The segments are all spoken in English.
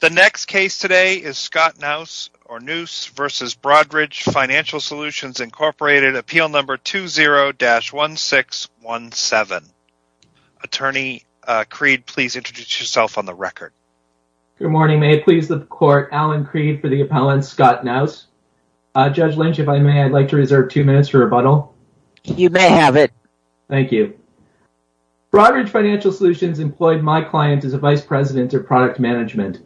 The next case today is Scott Knous v. Broadridge Financial Solutions, Inc., Appeal No. 20-1617. Attorney Creed, please introduce yourself on the record. Good morning. May it please the court, Alan Creed for the appellant, Scott Knous. Judge Lynch, if I may, I'd like to reserve two minutes for rebuttal. You may have it. Thank you. Broadridge Financial Solutions employed my client as a vice president of product management.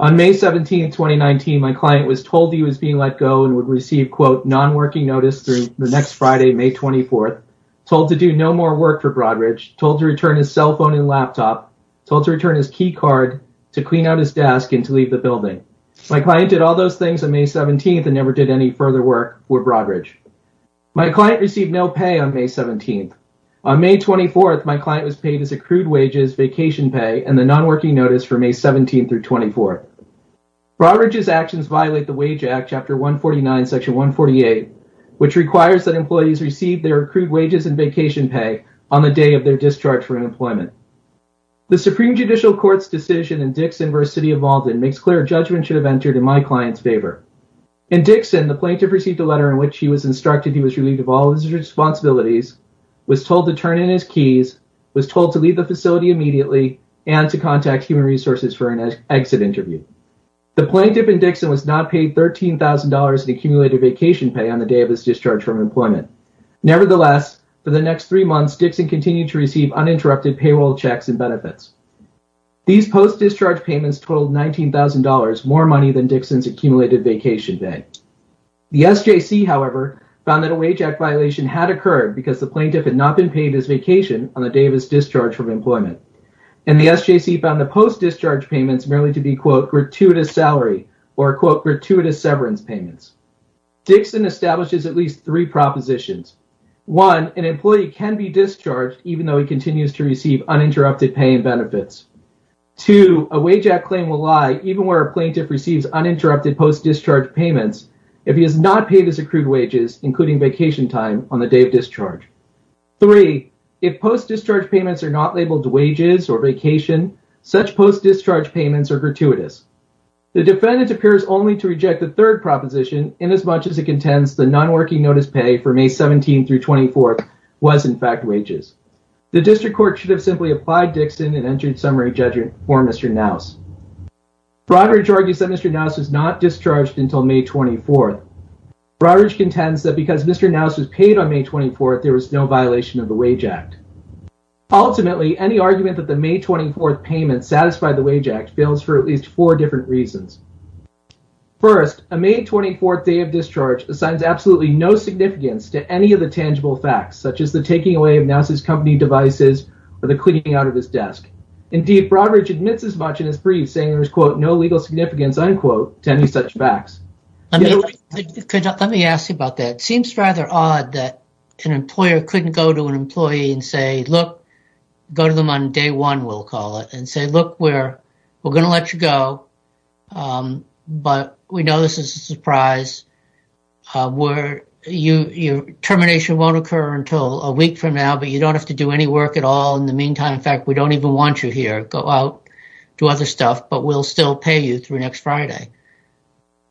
On May 17, 2019, my client was told he was being let go and would receive quote non-working notice through the next Friday, May 24th, told to do no more work for Broadridge, told to return his cell phone and laptop, told to return his key card to clean out his desk and to leave the building. My client did all those things on May 17th and never did any further work for Broadridge. My client received no pay on May 17th. On May 24th, my client was paid his accrued wages, vacation pay, and the non-working notice for May 17th through 24th. Broadridge's actions violate the Wage Act, Chapter 149, Section 148, which requires that employees receive their accrued wages and vacation pay on the day of their discharge from employment. The Supreme Judicial Court's decision in Dixon v. City of Malden makes clear a judgment should have entered in my client's favor. In Dixon, the plaintiff received a letter in which he was instructed he was relieved of all his responsibilities, was told to turn in his documents immediately, and to contact Human Resources for an exit interview. The plaintiff in Dixon was not paid $13,000 in accumulated vacation pay on the day of his discharge from employment. Nevertheless, for the next three months, Dixon continued to receive uninterrupted payroll checks and benefits. These post-discharge payments totaled $19,000, more money than Dixon's accumulated vacation pay. The SJC, however, found that a Wage Act violation had occurred because the plaintiff had not been paid his vacation on the day of his discharge from employment, and the SJC found the post-discharge payments merely to be, quote, gratuitous salary or, quote, gratuitous severance payments. Dixon establishes at least three propositions. One, an employee can be discharged even though he continues to receive uninterrupted pay and benefits. Two, a Wage Act claim will lie even where a plaintiff receives uninterrupted post-discharge payments if he has not paid his accrued wages, including vacation time, on the day of discharge. Three, if post-discharge payments are not labeled wages or vacation, such post-discharge payments are gratuitous. The defendant appears only to reject the third proposition inasmuch as it contends the non-working notice pay for May 17th through 24th was, in fact, wages. The district court should have simply applied Dixon and entered summary judgment for Mr. Knauss. Broderidge argues that Mr. Knauss was not discharged until May 24th. Broderidge contends that because Mr. Knauss was paid on May 24th, there was no violation of the Wage Act. Ultimately, any argument that the May 24th payment satisfied the Wage Act fails for at least four different reasons. First, a May 24th day of discharge assigns absolutely no significance to any of the tangible facts, such as the taking away of Knauss' company devices or the cleaning out of his desk. Indeed, Broderidge admits as much in his brief, saying there is, quote, no legal significance, unquote, to any such facts. Let me ask you about that. It seems rather odd that an employer couldn't go to an employee and say, look, go to them on day one, we'll call it, and say, look, we're going to let you go, but we know this is a surprise. Termination won't occur until a week from now, but you don't have to do any work at all in the meantime. In fact, we don't even want you here. Go out, do other stuff, but we'll still pay you through next Friday.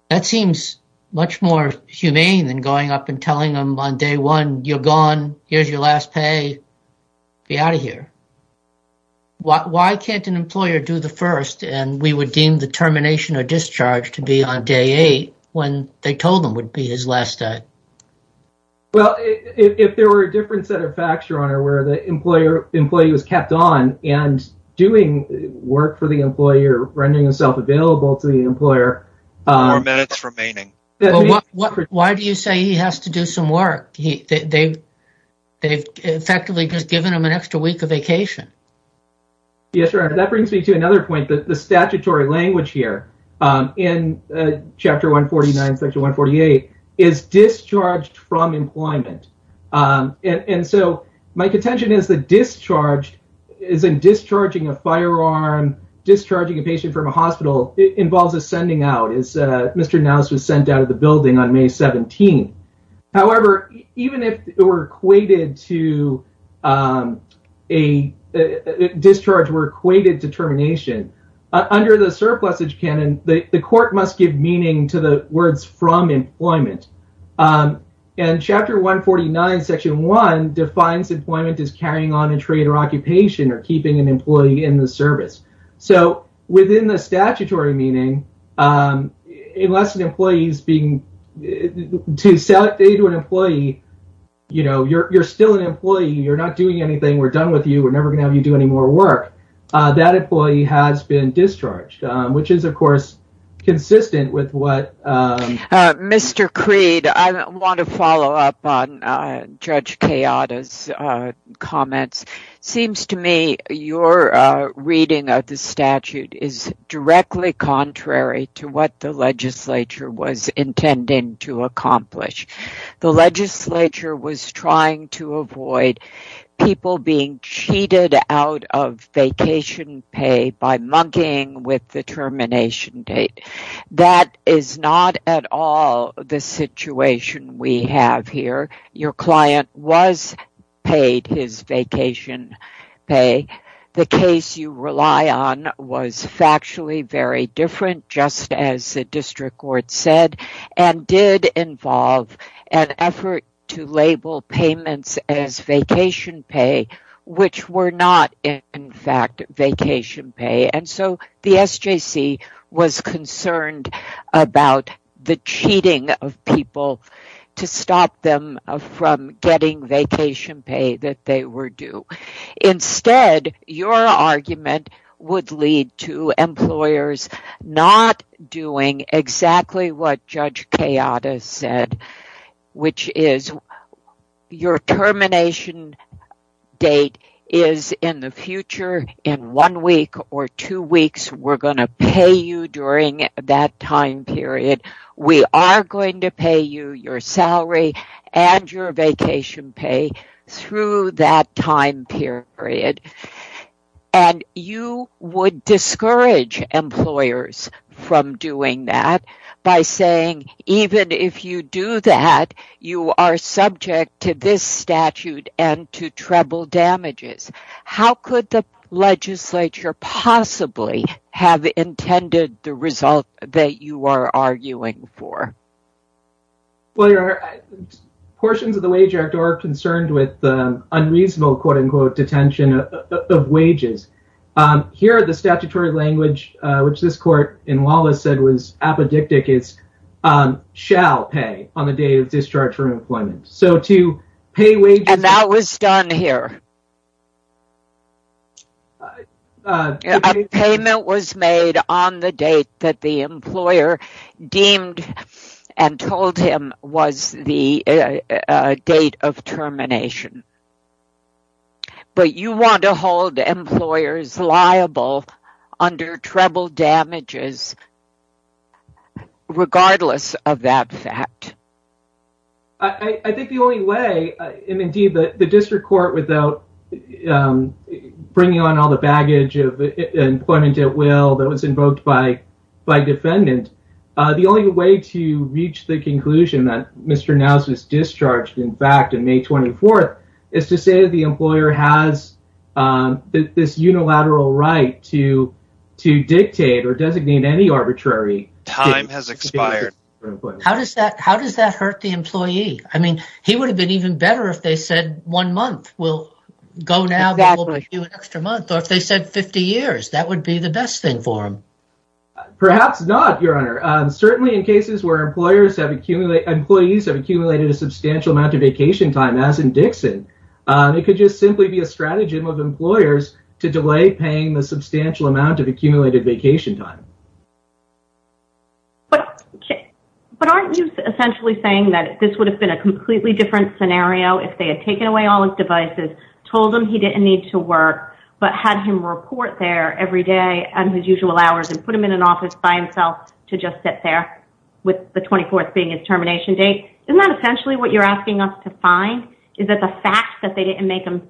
That seems much more humane than going up and telling them on day one, you're gone, here's your last pay, get out of here. Why can't an employer do the first, and we would deem the termination or discharge to be on day eight, when they told them it would be his last day? Well, if there were a different set of facts, Your Honor, where the employee was kept on and doing work for the employer, rendering himself available to the employer. Why do you say he has to do some work? They've effectively just given him an extra week of vacation. Yes, Your Honor. That brings me to another point, that the statutory language here in Chapter 149, Section 148 is discharged from discharging a firearm, discharging a patient from a hospital, it involves a sending out, as Mr. Nowes was sent out of the building on May 17th. However, even if it were equated to a discharge, were equated to termination, under the surplusage canon, the court must give meaning to the words from employment. And Chapter 149, Section 1 defines employment as carrying on a occupation or keeping an employee in the service. So, within the statutory meaning, unless an employee is being, to say to an employee, you know, you're still an employee, you're not doing anything, we're done with you, we're never going to have you do any more work, that employee has been discharged, which is, of course, consistent with what... Mr. Creed, I want to follow up on Judge Kayada's comments. Seems to me your reading of the statute is directly contrary to what the legislature was intending to accomplish. The legislature was trying to avoid people being cheated out of vacation pay by mugging with the termination date. That is not at all the situation we have here. Your client was paid his vacation pay. The case you rely on was factually very different, just as the district court said, and did involve an effort to label payments as vacation pay, which were not in fact vacation pay. And so, the SJC was concerned about the cheating of people to stop them from getting vacation pay that they were due. Instead, your argument would lead to employers not doing exactly what Judge Kayada said, which is, your termination date is in the future, in one week or two weeks, we're going to pay you during that time period. We are going to pay you your salary and your vacation pay through that time period. You would discourage employers from doing that by saying, even if you do that, you are subject to this statute and to treble damages. How could the legislature possibly have intended the result that you are arguing for? Well, portions of the Wage Act are concerned with the unreasonable, quote-unquote, detention of wages. Here, the statutory language, which this court in Wallace said was apodictic, is shall pay on the day of discharge from employment. So, to pay wages... And that was done here. A payment was made on the date that the employer deemed and told him was the date of termination. But you want to hold employers liable under treble damages, regardless of that fact. I think the only way, and indeed, the district court, without bringing on all the baggage of employment at will that was invoked by defendant, the only way to reach the conclusion that Mr. Knauss was discharged, in fact, on May 24th, is to say that the employer has this unilateral right to dictate or designate any arbitrary... Time has expired. How does that hurt the employee? I mean, he would have been even better if they said one month. We'll go now, but we'll give you an extra month. Or if they said 50 years, that would be the best thing for him. Perhaps not, Your Honor. Certainly, in cases where employees have accumulated a substantial amount of vacation time, as in Dixon, it could just simply be a stratagem of employers to delay paying the substantial amount of accumulated vacation time. Okay. But aren't you essentially saying that this would have been a completely different scenario if they had taken away all his devices, told him he didn't need to work, but had him report there every day on his usual hours and put him in an office by himself to just sit there with the 24th being his termination date? Isn't that essentially what you're asking us to find, is that the fact that they didn't make him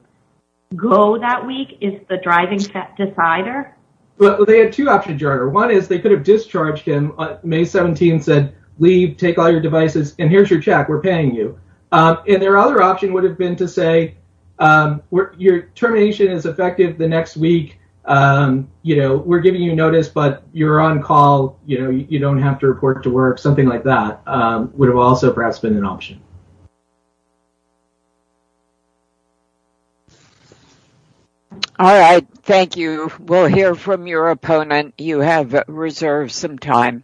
go that week is the driving decider? Well, they had two options, Your Honor. One is they could have discharged him. May 17 said, leave, take all your devices, and here's your check. We're paying you. And their other option would have been to say, your termination is effective the next week. You know, we're giving you notice, but you're on call. You know, you don't have to report to work. Something like that would have also perhaps been an option. All right. Thank you. We'll hear from your opponent. You have reserved some time.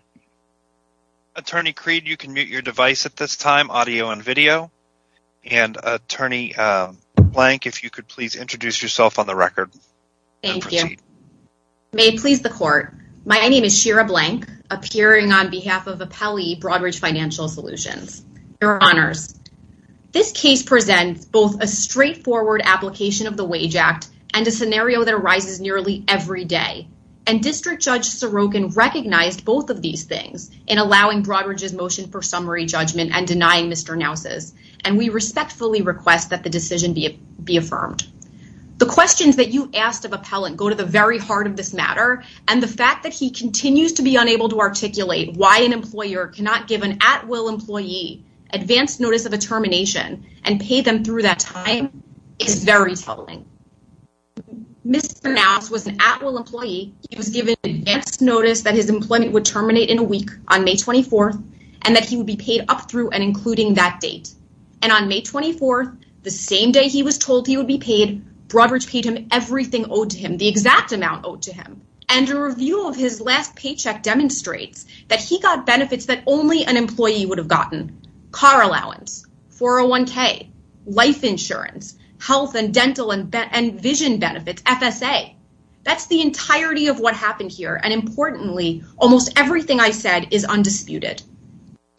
Attorney Creed, you can mute your device at this time, audio and video. And Attorney Blank, if you could please introduce yourself on the record. Thank you. May it please the Court. My name is Shira Blank, appearing on behalf of Apelli This case presents both a straightforward application of the Wage Act and a scenario that arises nearly every day. And District Judge Sorokin recognized both of these things in allowing Broadridge's motion for summary judgment and denying Mr. Naus's. And we respectfully request that the decision be affirmed. The questions that you asked of Appellant go to the very heart of this matter, and the fact that he continues to be unable to articulate why an employer cannot give an at-will employee advance notice of a termination and pay them through that time is very troubling. Mr. Naus was an at-will employee. He was given advance notice that his employment would terminate in a week on May 24th, and that he would be paid up through and including that date. And on May 24th, the same day he was told he would be paid, Broadridge paid him everything owed to him, the exact amount owed to him. And a review of his last paycheck demonstrates that he got car allowance, 401k, life insurance, health and dental and vision benefits, FSA. That's the entirety of what happened here. And importantly, almost everything I said is undisputed.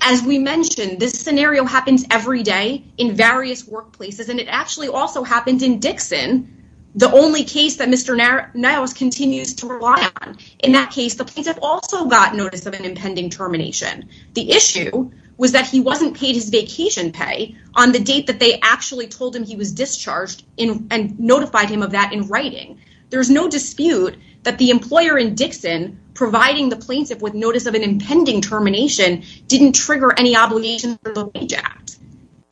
As we mentioned, this scenario happens every day in various workplaces, and it actually also happened in Dixon, the only case that Mr. Naus continues to rely on. In that case, the plaintiff also got notice of an impending termination. The issue was that he wasn't paid his vacation pay on the date that they actually told him he was discharged and notified him of that in writing. There's no dispute that the employer in Dixon providing the plaintiff with notice of an impending termination didn't trigger any obligation for the Wage Act.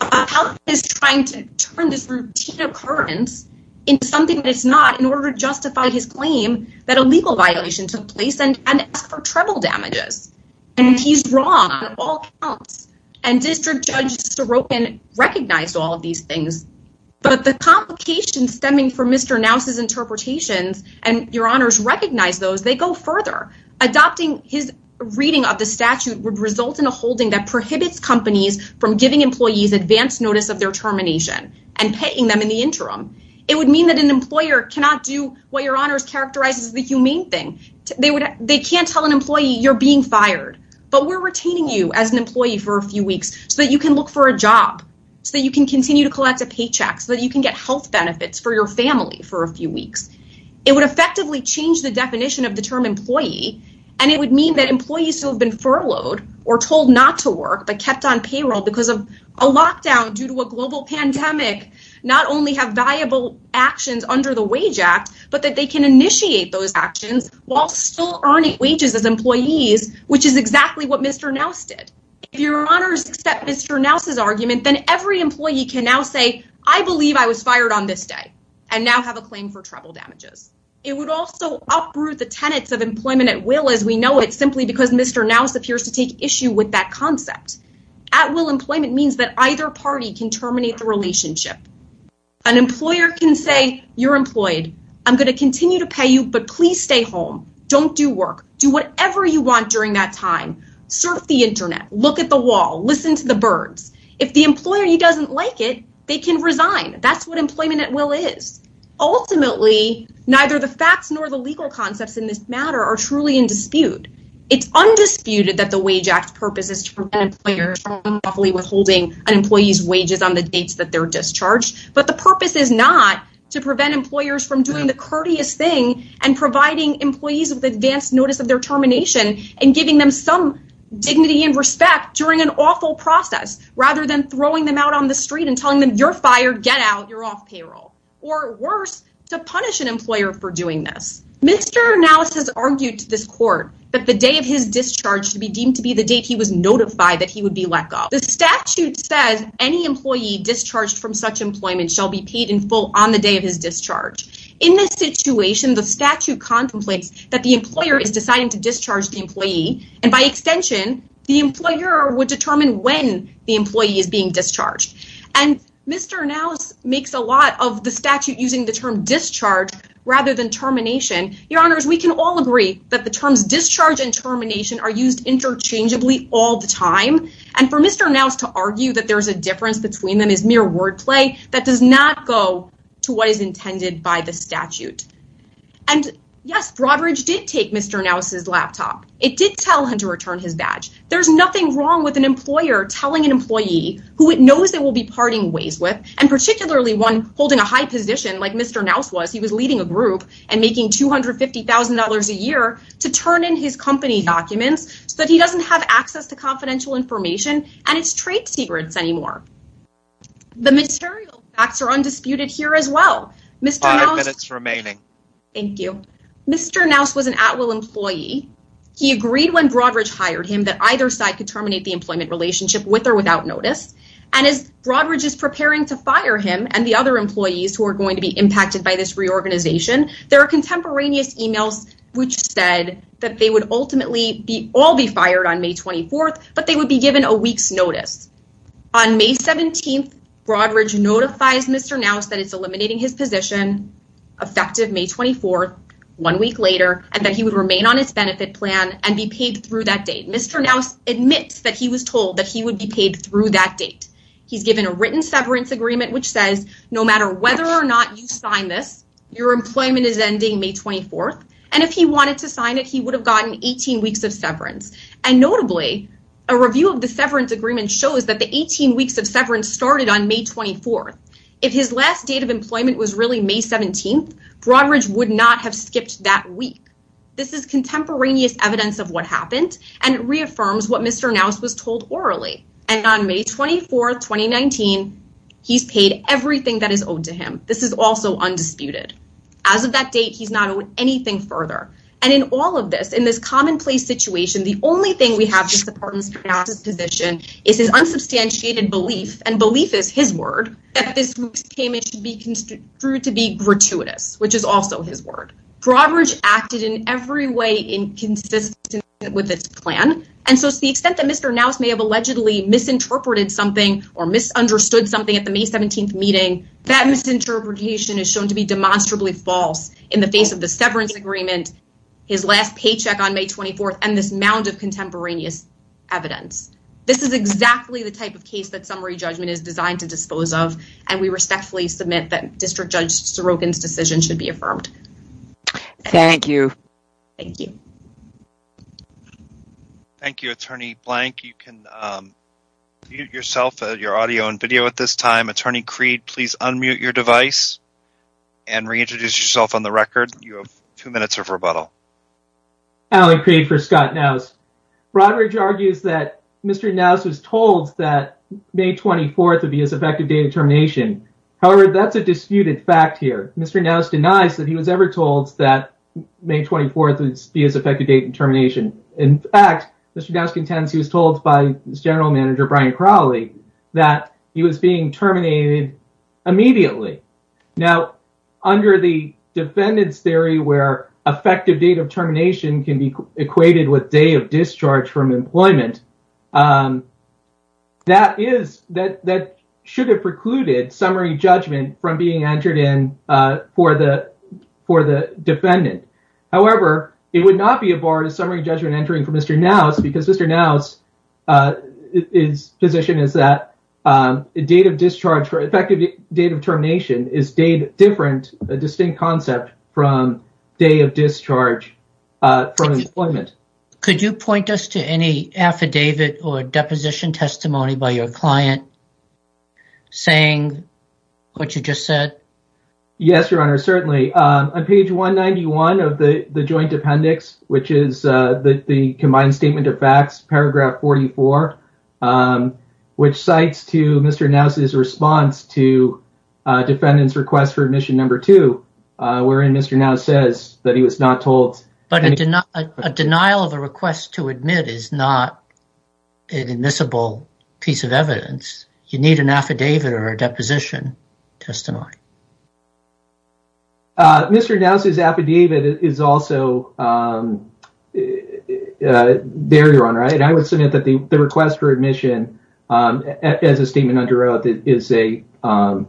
Appellate is trying to turn this routine occurrence into something it's not in order to justify his claim that a legal violation took place and ask for treble damages. And he's wrong on all counts. And District Judge Sorokin recognized all of these things. But the complications stemming from Mr. Naus's interpretations, and your honors recognize those, they go further. Adopting his reading of the statute would result in a holding that prohibits companies from giving employees advance notice of their termination and paying them in the interim. It would mean that an employer cannot do what your honors characterize as the humane thing. They can't tell an employee you're being fired, but we're retaining you as an employee for a few weeks so that you can look for a job, so that you can continue to collect a paycheck, so that you can get health benefits for your family for a few weeks. It would effectively change the definition of the term employee. And it would mean that employees who have been furloughed or told not to work, but kept on payroll because of a lockdown due to a global pandemic, not only have viable actions under the Wage Act, but that they can initiate those actions while still earning wages as employees, which is exactly what Mr. Naus did. If your honors accept Mr. Naus's argument, then every employee can now say, I believe I was fired on this day and now have a claim for treble damages. It would also uproot the tenets of employment at will as we know it simply because Mr. Naus appears to take issue with that concept. At will employment means that either party can terminate the relationship. An employer can say, you're employed. I'm going to continue to pay you, but please stay home. Don't do work. Do whatever you want during that time. Surf the internet, look at the wall, listen to the birds. If the employee doesn't like it, they can resign. That's what employment at will is. Ultimately, neither the facts nor the legal concepts in this matter are truly in dispute. It's undisputed that the Wage Act's purpose is to prevent employers from unlawfully withholding an employee's wages on the dates that they're discharged, but the purpose is not to prevent employers from doing the courteous thing and providing employees with advanced notice of their termination and giving them some dignity and respect during an awful process, rather than throwing them out on the street and telling them you're fired, get out, you're off payroll. Or to punish an employer for doing this. Mr. Nowes has argued to this court that the day of his discharge should be deemed to be the date he was notified that he would be let go. The statute says any employee discharged from such employment shall be paid in full on the day of his discharge. In this situation, the statute contemplates that the employer is deciding to discharge the employee and by extension, the employer would determine when the employee is being discharged. And Mr. Nowes makes a lot of the statute using the term discharge rather than termination. Your honors, we can all agree that the terms discharge and termination are used interchangeably all the time. And for Mr. Nowes to argue that there's a difference between them is mere wordplay that does not go to what is intended by the statute. And yes, Broadridge did take Mr. Nowes' laptop. It did tell him to return his badge. There's nothing wrong with an employer telling an employee who it knows they will be parting ways with, and particularly one holding a high position like Mr. Nowes was. He was leading a group and making $250,000 a year to turn in his company documents so that he doesn't have access to confidential information and its trade secrets anymore. The material facts are undisputed here as well. Five minutes remaining. Thank you. Mr. Nowes was an at-will employee. He agreed when Broadridge hired him that either side could And as Broadridge is preparing to fire him and the other employees who are going to be impacted by this reorganization, there are contemporaneous emails which said that they would ultimately all be fired on May 24th, but they would be given a week's notice. On May 17th, Broadridge notifies Mr. Nowes that it's eliminating his position effective May 24th, one week later, and that he would remain on its benefit plan and be paid through that date. Mr. Nowes admits that he was told that he would be paid through that date. He's given a written severance agreement which says no matter whether or not you sign this, your employment is ending May 24th, and if he wanted to sign it, he would have gotten 18 weeks of severance. And notably, a review of the severance agreement shows that the 18 weeks of severance started on May 24th. If his last date of employment was really May 17th, Broadridge would not have skipped that week. This is contemporaneous evidence of what happened, and it reaffirms what Mr. Nowes was told orally, and on May 24th, 2019, he's paid everything that is owed to him. This is also undisputed. As of that date, he's not owed anything further. And in all of this, in this commonplace situation, the only thing we have to support Mr. Nowes' position is his unsubstantiated belief, and belief is his word, that this payment should be construed to be gratuitous, which is also his every way inconsistent with its plan. And so to the extent that Mr. Nowes may have allegedly misinterpreted something or misunderstood something at the May 17th meeting, that misinterpretation is shown to be demonstrably false in the face of the severance agreement, his last paycheck on May 24th, and this mound of contemporaneous evidence. This is exactly the type of case that summary judgment is designed to dispose of, and we respectfully submit that Thank you. Thank you. Thank you, Attorney Blank. You can mute yourself, your audio and video at this time. Attorney Creed, please unmute your device and reintroduce yourself on the record. You have two minutes of rebuttal. Allen Creed for Scott Nowes. Broadridge argues that Mr. Nowes was told that May 24th would be his effective date of termination. However, that's a disputed fact here. Mr. Nowes denies that he was ever told that May 24th would be his effective date of termination. In fact, Mr. Nowes contends he was told by his general manager, Brian Crowley, that he was being terminated immediately. Now, under the defendant's theory where effective date of termination can be equated with day of discharge from employment, that should have precluded summary judgment from being entered in for the defendant. However, it would not be a bar to summary judgment entering for Mr. Nowes because Mr. Nowes' position is that effective date of termination is a distinct concept from day of discharge from employment. Could you point us to any affidavit or deposition testimony by your client saying what you just said? Yes, Your Honor, certainly. On page 191 of the joint appendix, which is the combined statement of facts, paragraph 44, which cites to Mr. Nowes' response to defendant's request for admission number two, wherein Mr. Nowes says that he was But a denial of a request to admit is not an admissible piece of evidence. You need an affidavit or a deposition testimony. Mr. Nowes' affidavit is also there, Your Honor, and I would submit that the request for admission as a statement under oath is an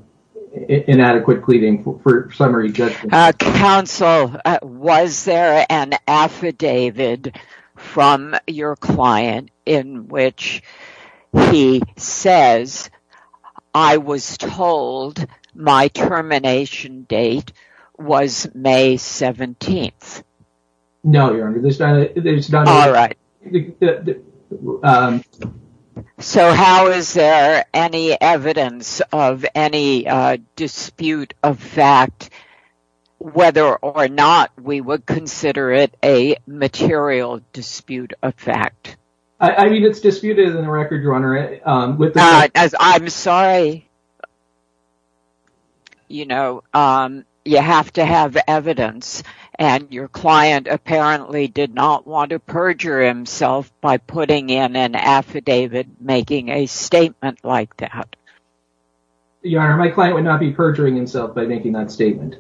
inadequate pleading for summary judgment. Counsel, was there an affidavit from your client in which he says, I was told my termination date was May 17th? No, Your Honor. All right. So, how is there any evidence of any dispute of fact, whether or not we would consider it a material dispute of fact? I mean, it's disputed in the record, Your Honor. As I'm sorry, you know, you have to have evidence, and your client apparently did not want to perjure himself by putting in an affidavit making a statement like that. Your Honor, my client would not be perjuring himself by making that statement.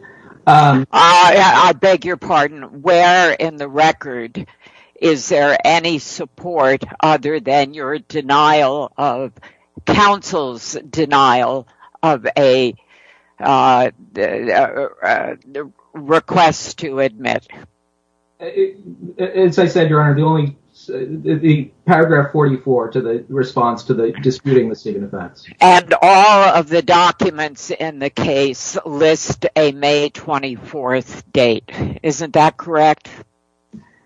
I beg your pardon. Where in the record is there any support other than your denial of counsel's denial of a request to admit? As I said, Your Honor, the only paragraph 44 to the response to the disputing the statement of facts. And all of the documents in the case list a May 24th date. Isn't that correct?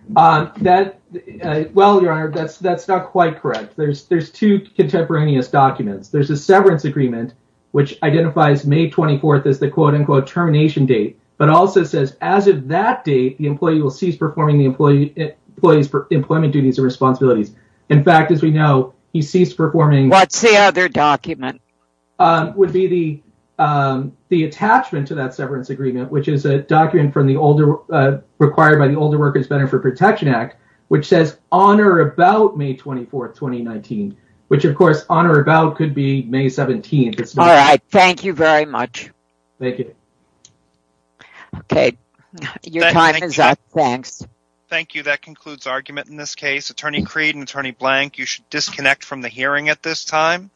Well, Your Honor, that's not quite correct. There's two contemporaneous documents. There's a severance agreement, which identifies May 24th as the quote-unquote termination date, but also says as of that date, the employee will cease performing the employment duties and responsibilities. In fact, as we know, he ceased performing. What's the other document? Would be the attachment to that severance agreement, which is a document from the older, required by the Older Workers' Benefit Protection Act, which says on or about May 24th, 2019, which of course on or about could be May 17th. All right. Thank you very much. Thank you. Okay. Your time is up. Thanks. Thank you. That concludes argument in this case. Attorney Creed and Attorney Blank, you should disconnect from the hearing at this time.